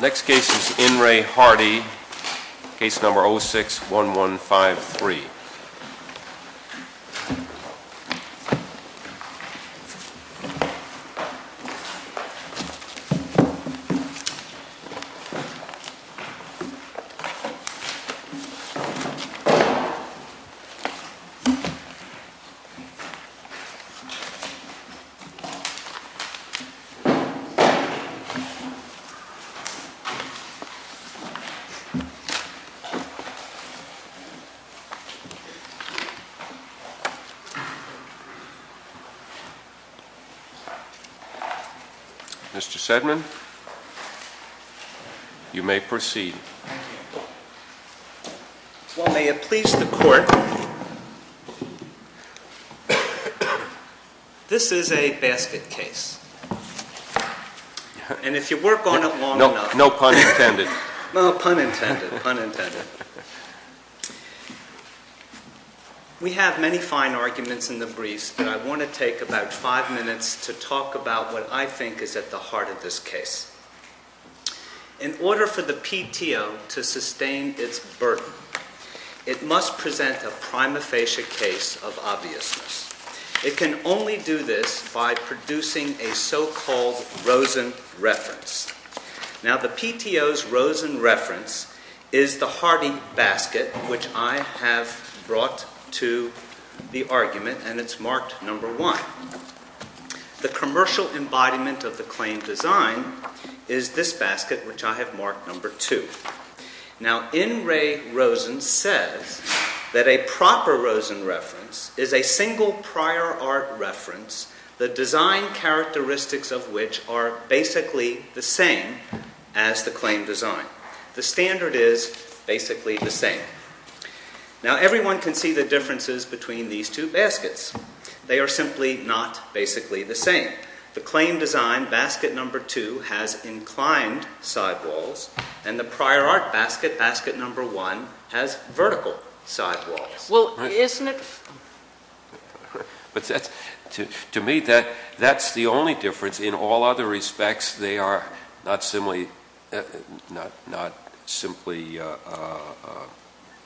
Next case is In Re Hardy, case number 06-1153. Mr. Sedman, you may proceed. Well, may it please the Court, this is a basket case. And if you work on it long enough. No pun intended. No pun intended, pun intended. We have many fine arguments in the briefs, but I want to take about five minutes to talk about what I think is at the heart of this case. In order for the PTO to sustain its burden, it must present a prima facie case of obviousness. It can only do this by producing a so-called Rosen reference. Now, the PTO's Rosen reference is the Hardy basket, which I have brought to the argument, and it's marked number one. The commercial embodiment of the claim design is this basket, which I have marked number two. Now, In Re Rosen says that a proper Rosen reference is a single prior art reference, the design characteristics of which are basically the same as the claim design. The standard is basically the same. Now, everyone can see the differences between these two baskets. They are simply not basically the same. The claim design, basket number two, has inclined sidewalls, and the prior art basket, basket number one, has vertical sidewalls. Well, isn't it? To me, that's the only difference. In all other respects, they are not simply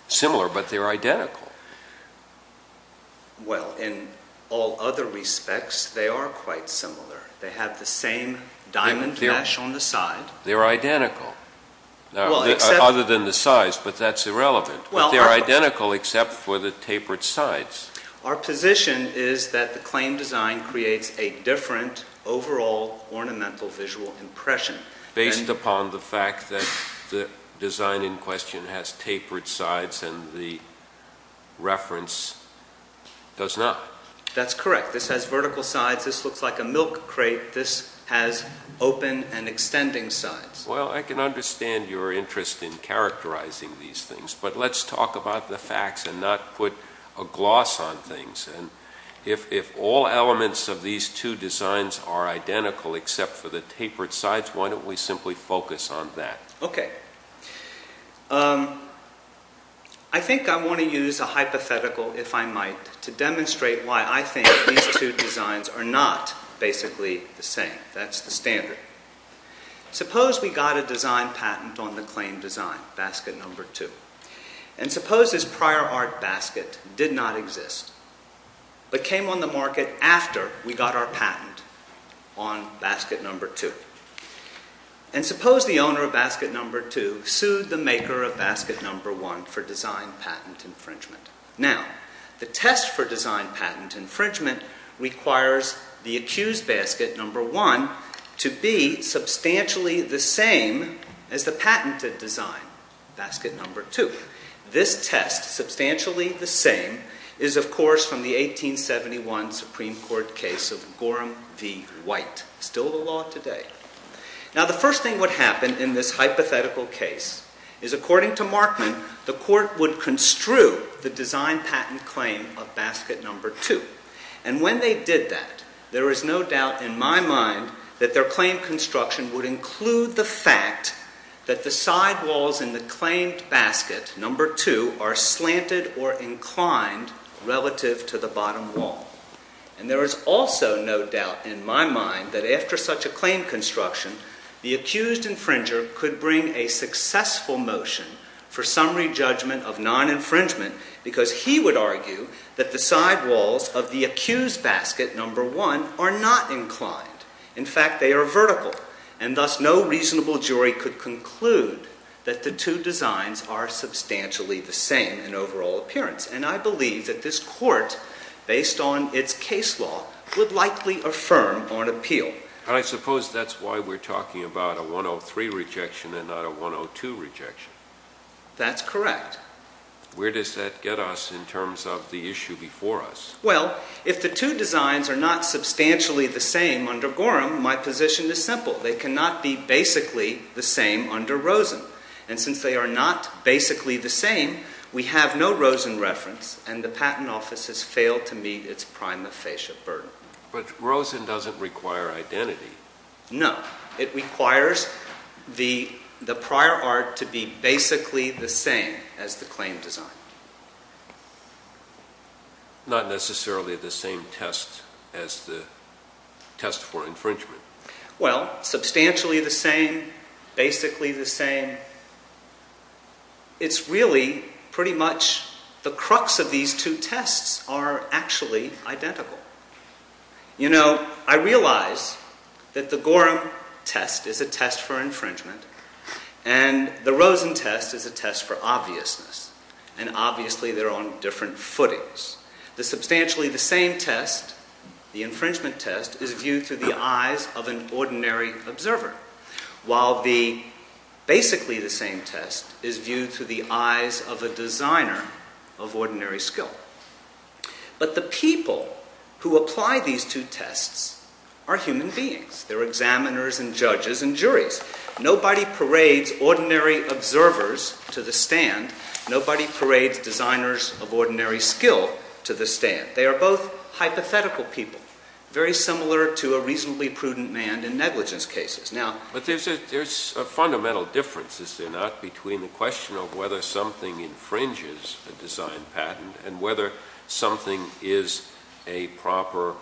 similar, but they're identical. Well, in all other respects, they are quite similar. They have the same diamond mesh on the side. They're identical, other than the size, but that's irrelevant. They're identical except for the tapered sides. Our position is that the claim design creates a different overall ornamental visual impression. Based upon the fact that the design in question has tapered sides and the reference does not. That's correct. This has vertical sides. This looks like a milk crate. This has open and extending sides. Well, I can understand your interest in characterizing these things, but let's talk about the facts and not put a gloss on things. If all elements of these two designs are identical except for the tapered sides, why don't we simply focus on that? Okay. I think I want to use a hypothetical, if I might, to demonstrate why I think these two designs are not basically the same. That's the standard. Suppose we got a design patent on the claim design, basket number two. Suppose this prior art basket did not exist but came on the market after we got our patent on basket number two. Suppose the owner of basket number two sued the maker of basket number one for design patent infringement. Now, the test for design patent infringement requires the accused basket number one to be substantially the same as the patented design, basket number two. This test, substantially the same, is, of course, from the 1871 Supreme Court case of Gorham v. White, still the law today. Now, the first thing what happened in this hypothetical case is, according to Markman, the court would construe the design patent claim of basket number two. And when they did that, there is no doubt in my mind that their claim construction would include the fact that the side walls in the claimed basket number two are slanted or inclined relative to the bottom wall. And there is also no doubt in my mind that after such a claim construction, the accused infringer could bring a successful motion for summary judgment of non-infringement because he would argue that the side walls of the accused basket number one are not inclined. In fact, they are vertical. And thus, no reasonable jury could conclude that the two designs are substantially the same in overall appearance. And I believe that this court, based on its case law, would likely affirm on appeal. I suppose that's why we're talking about a 103 rejection and not a 102 rejection. That's correct. Where does that get us in terms of the issue before us? Well, if the two designs are not substantially the same under Gorham, my position is simple. They cannot be basically the same under Rosen. And since they are not basically the same, we have no Rosen reference, and the Patent Office has failed to meet its prima facie burden. But Rosen doesn't require identity. No. It requires the prior art to be basically the same as the claim design. Not necessarily the same test as the test for infringement. Well, substantially the same, basically the same, it's really pretty much the crux of these two tests are actually identical. You know, I realize that the Gorham test is a test for infringement and the Rosen test is a test for obviousness. And obviously they're on different footings. The substantially the same test, the infringement test, is viewed through the eyes of an ordinary observer. While the basically the same test is viewed through the eyes of a designer of ordinary skill. But the people who apply these two tests are human beings. They're examiners and judges and juries. Nobody parades ordinary observers to the stand. Nobody parades designers of ordinary skill to the stand. They are both hypothetical people, very similar to a reasonably prudent man in negligence cases. But there's a fundamental difference, is there not, between the question of whether something infringes a design patent and whether something is a proper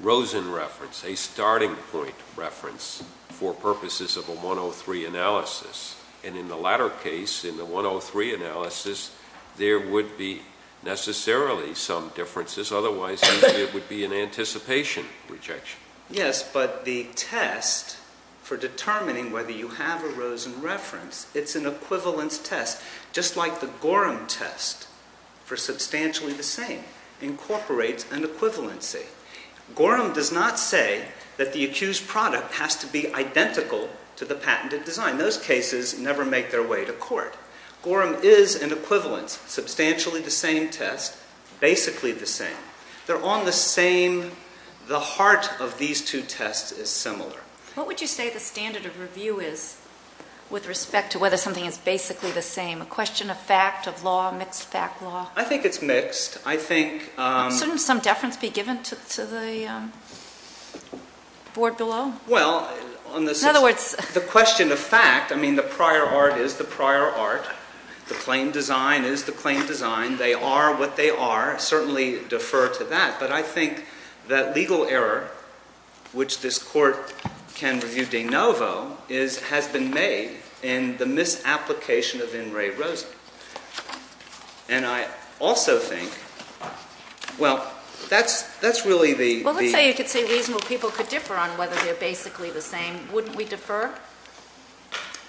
Rosen reference, a starting point reference for purposes of a 103 analysis. And in the latter case, in the 103 analysis, there would be necessarily some differences. Otherwise, it would be an anticipation rejection. Yes, but the test for determining whether you have a Rosen reference, it's an equivalence test. Just like the Gorham test for substantially the same incorporates an equivalency. Gorham does not say that the accused product has to be identical to the patented design. Those cases never make their way to court. Gorham is an equivalence, substantially the same test, basically the same. They're on the same, the heart of these two tests is similar. What would you say the standard of review is with respect to whether something is basically the same? A question of fact, of law, mixed fact law? I think it's mixed. Shouldn't some deference be given to the board below? Well, the question of fact, I mean, the prior art is the prior art. The claim design is the claim design. They are what they are. Certainly defer to that. But I think that legal error, which this court can review de novo, has been made in the misapplication of in re Rosen. And I also think, well, that's really the... If you say you could say reasonable people could differ on whether they're basically the same, wouldn't we defer?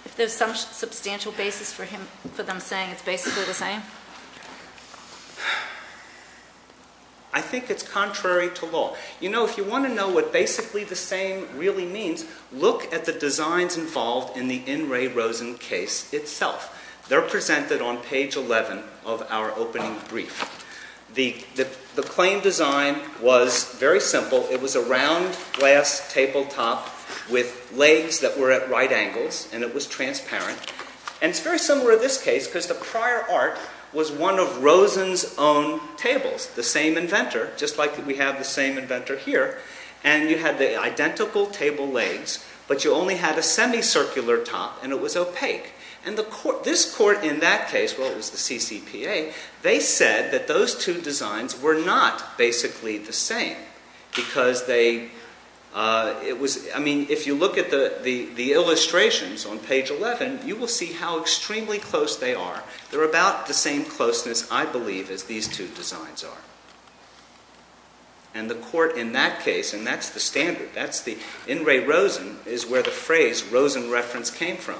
If there's some substantial basis for them saying it's basically the same? I think it's contrary to law. You know, if you want to know what basically the same really means, look at the designs involved in the in re Rosen case itself. They're presented on page 11 of our opening brief. The claim design was very simple. It was a round glass tabletop with legs that were at right angles, and it was transparent. And it's very similar in this case because the prior art was one of Rosen's own tables, the same inventor, just like we have the same inventor here. And you had the identical table legs, but you only had a semicircular top, and it was opaque. And this court in that case, well, it was the CCPA. They said that those two designs were not basically the same because they... I mean, if you look at the illustrations on page 11, you will see how extremely close they are. They're about the same closeness, I believe, as these two designs are. And the court in that case, and that's the standard, that's the in re Rosen, is where the phrase Rosen reference came from.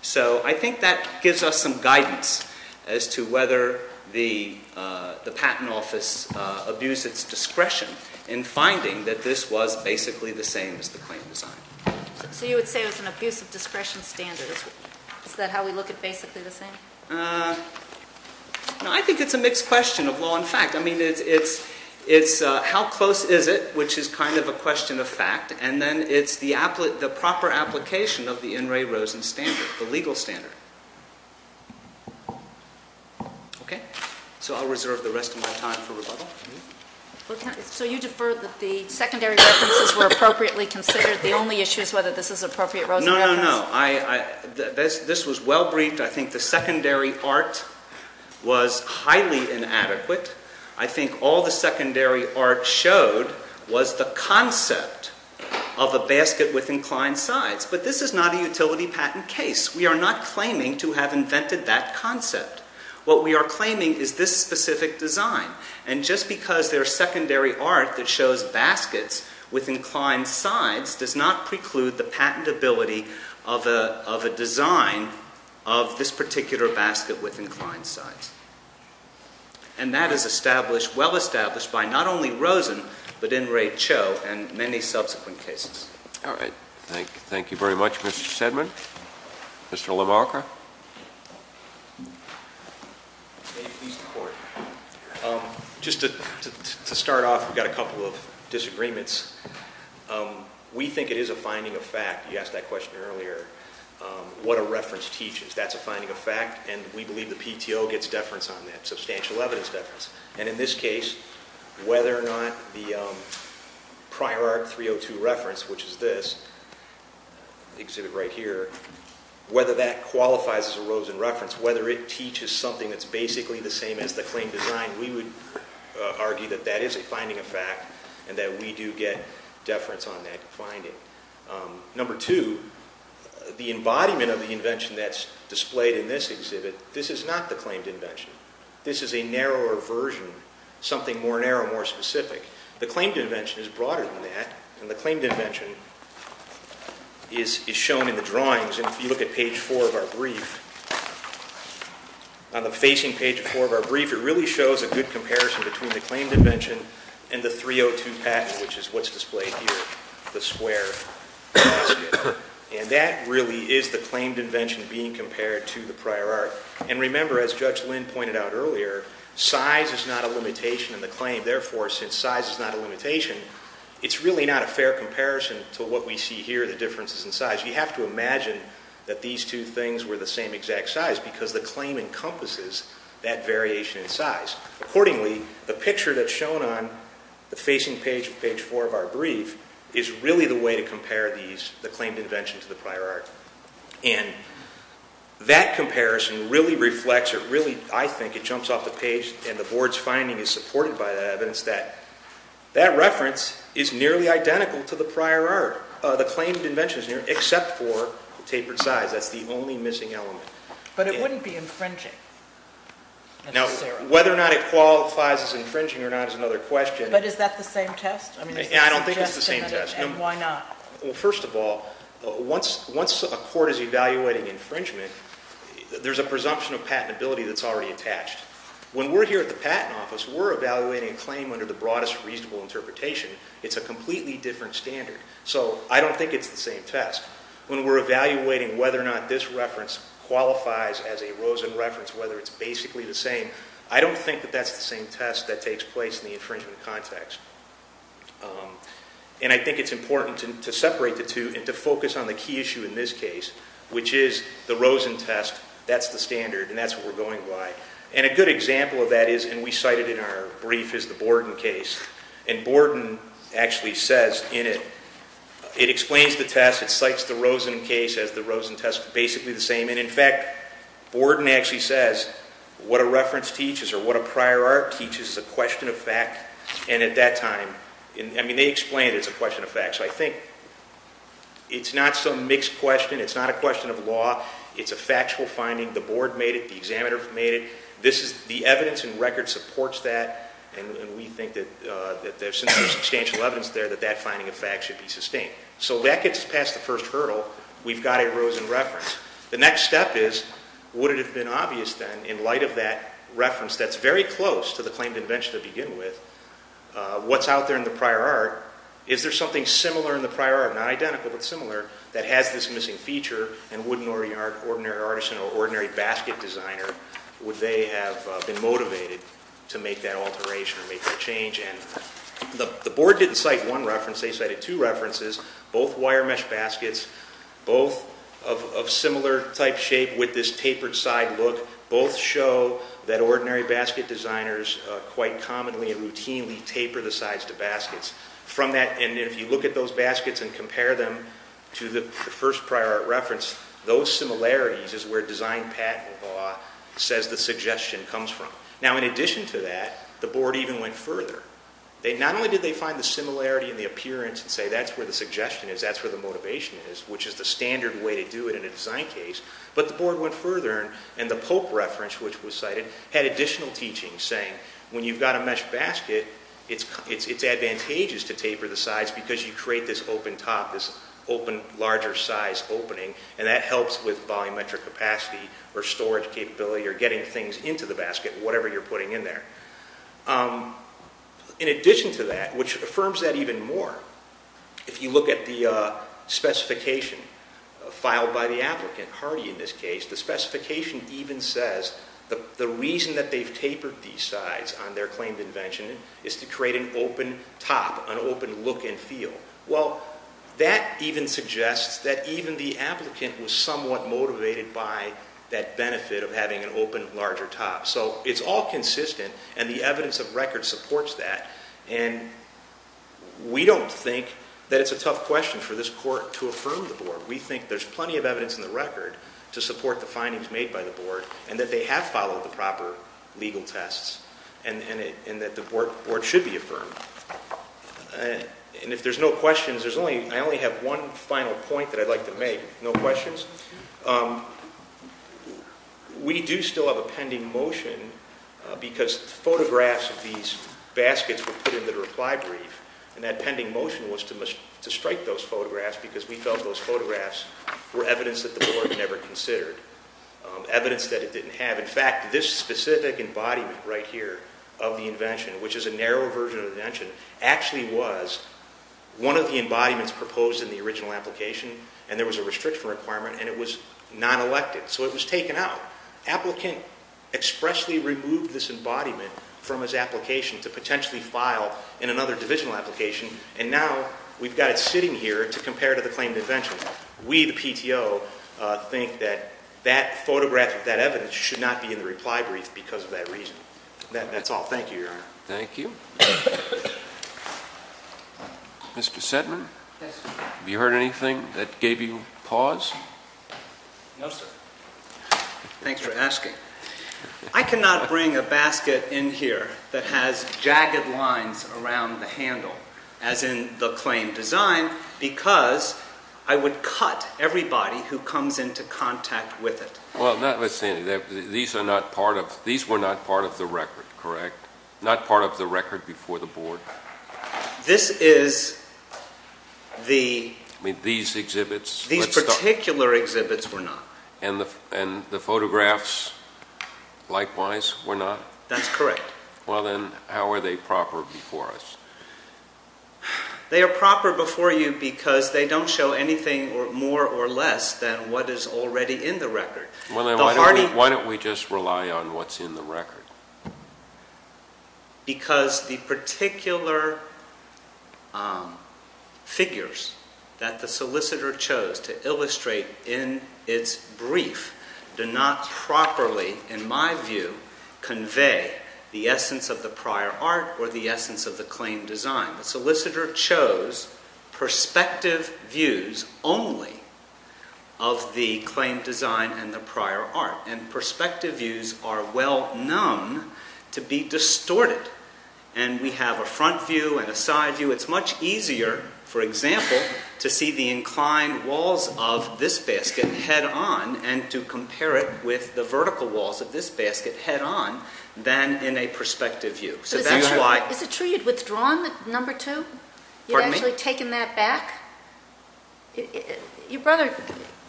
So I think that gives us some guidance as to whether the patent office abused its discretion in finding that this was basically the same as the claim design. So you would say it was an abuse of discretion standard. Is that how we look at basically the same? I think it's a mixed question of law and fact. I mean, it's how close is it, which is kind of a question of fact. And then it's the proper application of the in re Rosen standard, the legal standard. Okay. So I'll reserve the rest of my time for rebuttal. So you defer that the secondary references were appropriately considered. The only issue is whether this is appropriate. No, no, no. This was well briefed. I think the secondary art was highly inadequate. I think all the secondary art showed was the concept of a basket with inclined sides. But this is not a utility patent case. We are not claiming to have invented that concept. What we are claiming is this specific design. And just because their secondary art that shows baskets with inclined sides does not preclude the patentability of a design of this particular basket with inclined sides. And that is established, well established, by not only Rosen but in Ray Cho and many subsequent cases. All right. Thank you. Thank you very much, Mr. Sedman. Mr. LaMarca. Just to start off, we've got a couple of disagreements. We think it is a finding of fact, you asked that question earlier, what a reference teaches. That's a finding of fact. And we believe the PTO gets deference on that, substantial evidence deference. And in this case, whether or not the prior art 302 reference, which is this exhibit right here, whether that qualifies as a Rosen reference, whether it teaches something that's basically the same as the claim design, we would argue that that is a finding of fact and that we do get deference on that finding. Number two, the embodiment of the invention that's displayed in this exhibit, this is not the claimed invention. This is a narrower version, something more narrow, more specific. The claimed invention is broader than that. And the claimed invention is shown in the drawings. And if you look at page four of our brief, on the facing page of four of our brief, it really shows a good comparison between the claimed invention and the 302 patent, which is what's displayed here, the square. And that really is the claimed invention being compared to the prior art. And remember, as Judge Lynn pointed out earlier, size is not a limitation in the claim. Therefore, since size is not a limitation, it's really not a fair comparison to what we see here, the differences in size. You have to imagine that these two things were the same exact size because the claim encompasses that variation in size. Accordingly, the picture that's shown on the facing page of page four of our brief is really the way to compare the claimed invention to the prior art. And that comparison really reflects or really, I think, it jumps off the page, and the board's finding is supported by that evidence, that that reference is nearly identical to the prior art. The claimed invention is near, except for the tapered size. That's the only missing element. But it wouldn't be infringing. Now, whether or not it qualifies as infringing or not is another question. But is that the same test? I don't think it's the same test. And why not? Well, first of all, once a court is evaluating infringement, there's a presumption of patentability that's already attached. When we're here at the Patent Office, we're evaluating a claim under the broadest reasonable interpretation. It's a completely different standard. So I don't think it's the same test. When we're evaluating whether or not this reference qualifies as a Rosen reference, whether it's basically the same, I don't think that that's the same test that takes place in the infringement context. And I think it's important to separate the two and to focus on the key issue in this case, which is the Rosen test. That's the standard, and that's what we're going by. And a good example of that is, and we cited in our brief, is the Borden case. And Borden actually says in it, it explains the test. It cites the Rosen case as the Rosen test, basically the same. And, in fact, Borden actually says what a reference teaches or what a prior art teaches is a question of fact. And at that time, I mean, they explained it's a question of fact. So I think it's not some mixed question. It's not a question of law. It's a factual finding. The board made it. The examiner made it. The evidence and record supports that, and we think that there's substantial evidence there that that finding of fact should be sustained. So that gets past the first hurdle. We've got a Rosen reference. The next step is, would it have been obvious then, in light of that reference that's very close to the claim to invention to begin with, what's out there in the prior art, is there something similar in the prior art, not identical but similar, that has this missing feature, and would an ordinary artisan or ordinary basket designer, would they have been motivated to make that alteration or make that change? And the board didn't cite one reference. They cited two references, both wire mesh baskets, both of similar type shape with this tapered side look. Both show that ordinary basket designers quite commonly and routinely taper the sides to baskets. And if you look at those baskets and compare them to the first prior art reference, those similarities is where design patent law says the suggestion comes from. Now, in addition to that, the board even went further. Not only did they find the similarity in the appearance and say that's where the suggestion is, that's where the motivation is, which is the standard way to do it in a design case, but the board went further, and the Pope reference, which was cited, had additional teachings saying when you've got a mesh basket, it's advantageous to taper the sides because you create this open top, this open larger size opening, and that helps with volumetric capacity or storage capability or getting things into the basket, whatever you're putting in there. In addition to that, which affirms that even more, if you look at the specification filed by the applicant, Hardy in this case, the specification even says the reason that they've tapered these sides on their claimed invention is to create an open top, an open look and feel. Well, that even suggests that even the applicant was somewhat motivated by that benefit of having an open larger top. So it's all consistent, and the evidence of record supports that, and we don't think that it's a tough question for this court to affirm the board. We think there's plenty of evidence in the record to support the findings made by the board and that they have followed the proper legal tests and that the board should be affirmed. And if there's no questions, I only have one final point that I'd like to make. No questions? We do still have a pending motion because photographs of these baskets were put into the reply brief, and that pending motion was to strike those photographs because we felt those photographs were evidence that the board never considered, evidence that it didn't have. In fact, this specific embodiment right here of the invention, which is a narrow version of the invention, actually was one of the embodiments proposed in the original application, and there was a restriction requirement, and it was non-elected, so it was taken out. Applicant expressly removed this embodiment from his application to potentially file in another divisional application, and now we've got it sitting here to compare to the claim to invention. We, the PTO, think that that photograph of that evidence should not be in the reply brief because of that reason. That's all. Thank you, Your Honor. Thank you. Mr. Sedman? Yes, sir. Have you heard anything that gave you pause? No, sir. Thanks for asking. I cannot bring a basket in here that has jagged lines around the handle, as in the claim design, because I would cut everybody who comes into contact with it. Well, let's see. These were not part of the record, correct? Not part of the record before the board? This is the... You mean these exhibits? These particular exhibits were not. And the photographs, likewise, were not? That's correct. Well, then, how are they proper before us? They are proper before you because they don't show anything more or less than what is already in the record. Well, then, why don't we just rely on what's in the record? Because the particular figures that the solicitor chose to illustrate in its brief do not properly, in my view, convey the essence of the prior art or the essence of the claim design. The solicitor chose perspective views only of the claim design and the prior art. And perspective views are well known to be distorted. And we have a front view and a side view. It's much easier, for example, to see the inclined walls of this basket head-on and to compare it with the vertical walls of this basket head-on than in a perspective view. So that's why... Is it true you'd withdrawn number two? Pardon me? You'd actually taken that back? Your brother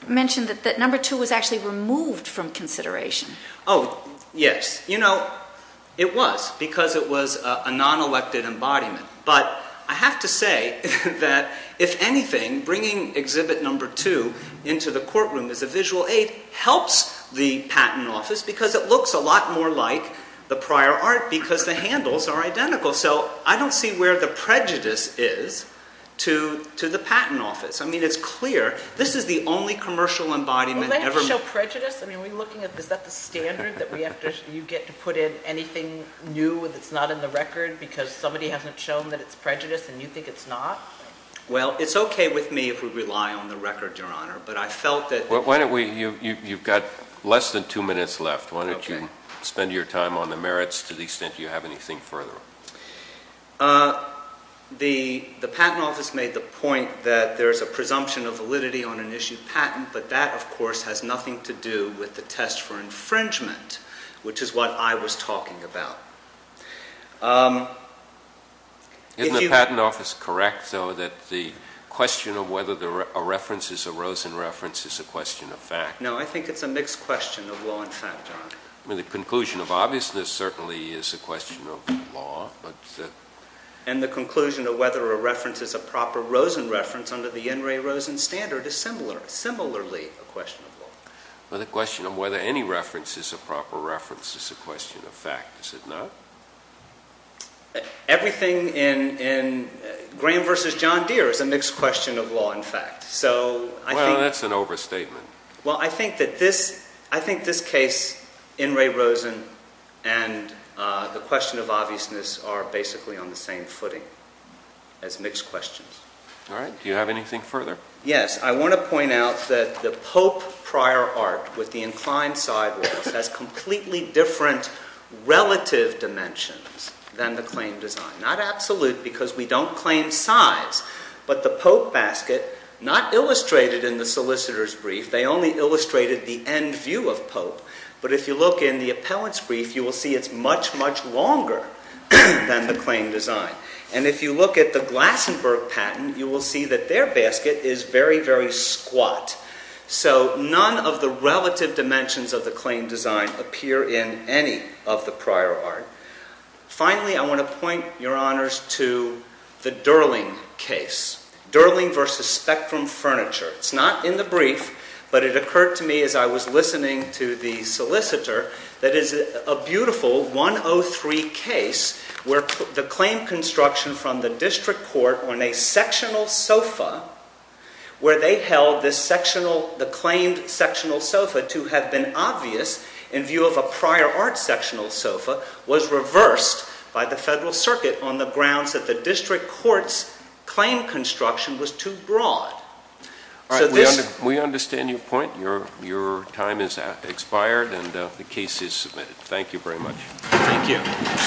mentioned that number two was actually removed from consideration. Oh, yes. You know, it was because it was a non-elected embodiment. But I have to say that, if anything, bringing exhibit number two into the courtroom as a visual aid helps the patent office because it looks a lot more like the prior art because the handles are identical. So I don't see where the prejudice is to the patent office. I mean, it's clear. This is the only commercial embodiment ever made. Well, they didn't show prejudice. I mean, is that the standard that you get to put in anything new that's not in the record because somebody hasn't shown that it's prejudice and you think it's not? Well, it's okay with me if we rely on the record, Your Honor, but I felt that... Why don't we... You've got less than two minutes left. Why don't you spend your time on the merits to the extent you have anything further? The patent office made the point that there is a presumption of validity on an issued patent, but that, of course, has nothing to do with the test for infringement, which is what I was talking about. Isn't the patent office correct, though, that the question of whether a reference is a Rosen reference is a question of fact? No, I think it's a mixed question of law and fact, Your Honor. I mean, the conclusion of obviousness certainly is a question of law, but... And the conclusion of whether a reference is a proper Rosen reference under the N. Ray Rosen standard is similarly a question of law. But the question of whether any reference is a proper reference is a question of fact, is it not? Everything in Graham v. John Deere is a mixed question of law and fact, so I think... Well, that's an overstatement. Well, I think that this case, N. Ray Rosen and the question of obviousness, are basically on the same footing as mixed questions. All right. Do you have anything further? Yes. I want to point out that the Pope prior art with the inclined sidewalls has completely different relative dimensions than the claim design. Not absolute because we don't claim size, but the Pope basket, not illustrated in the solicitor's brief, they only illustrated the end view of Pope. But if you look in the appellant's brief, you will see it's much, much longer than the claim design. And if you look at the Glassenburg patent, you will see that their basket is very, very squat. So none of the relative dimensions of the claim design appear in any of the prior art. Finally, I want to point, Your Honors, to the Durling case. Durling v. Spectrum Furniture. It's not in the brief, but it occurred to me as I was listening to the solicitor that is a beautiful 103 case where the claim construction from the district court on a sectional sofa, where they held the claimed sectional sofa to have been obvious in view of a prior art sectional sofa, was reversed by the Federal Circuit on the grounds that the district court's claim construction was too broad. All right. We understand your point. Your time has expired, and the case is submitted. Thank you very much. Thank you.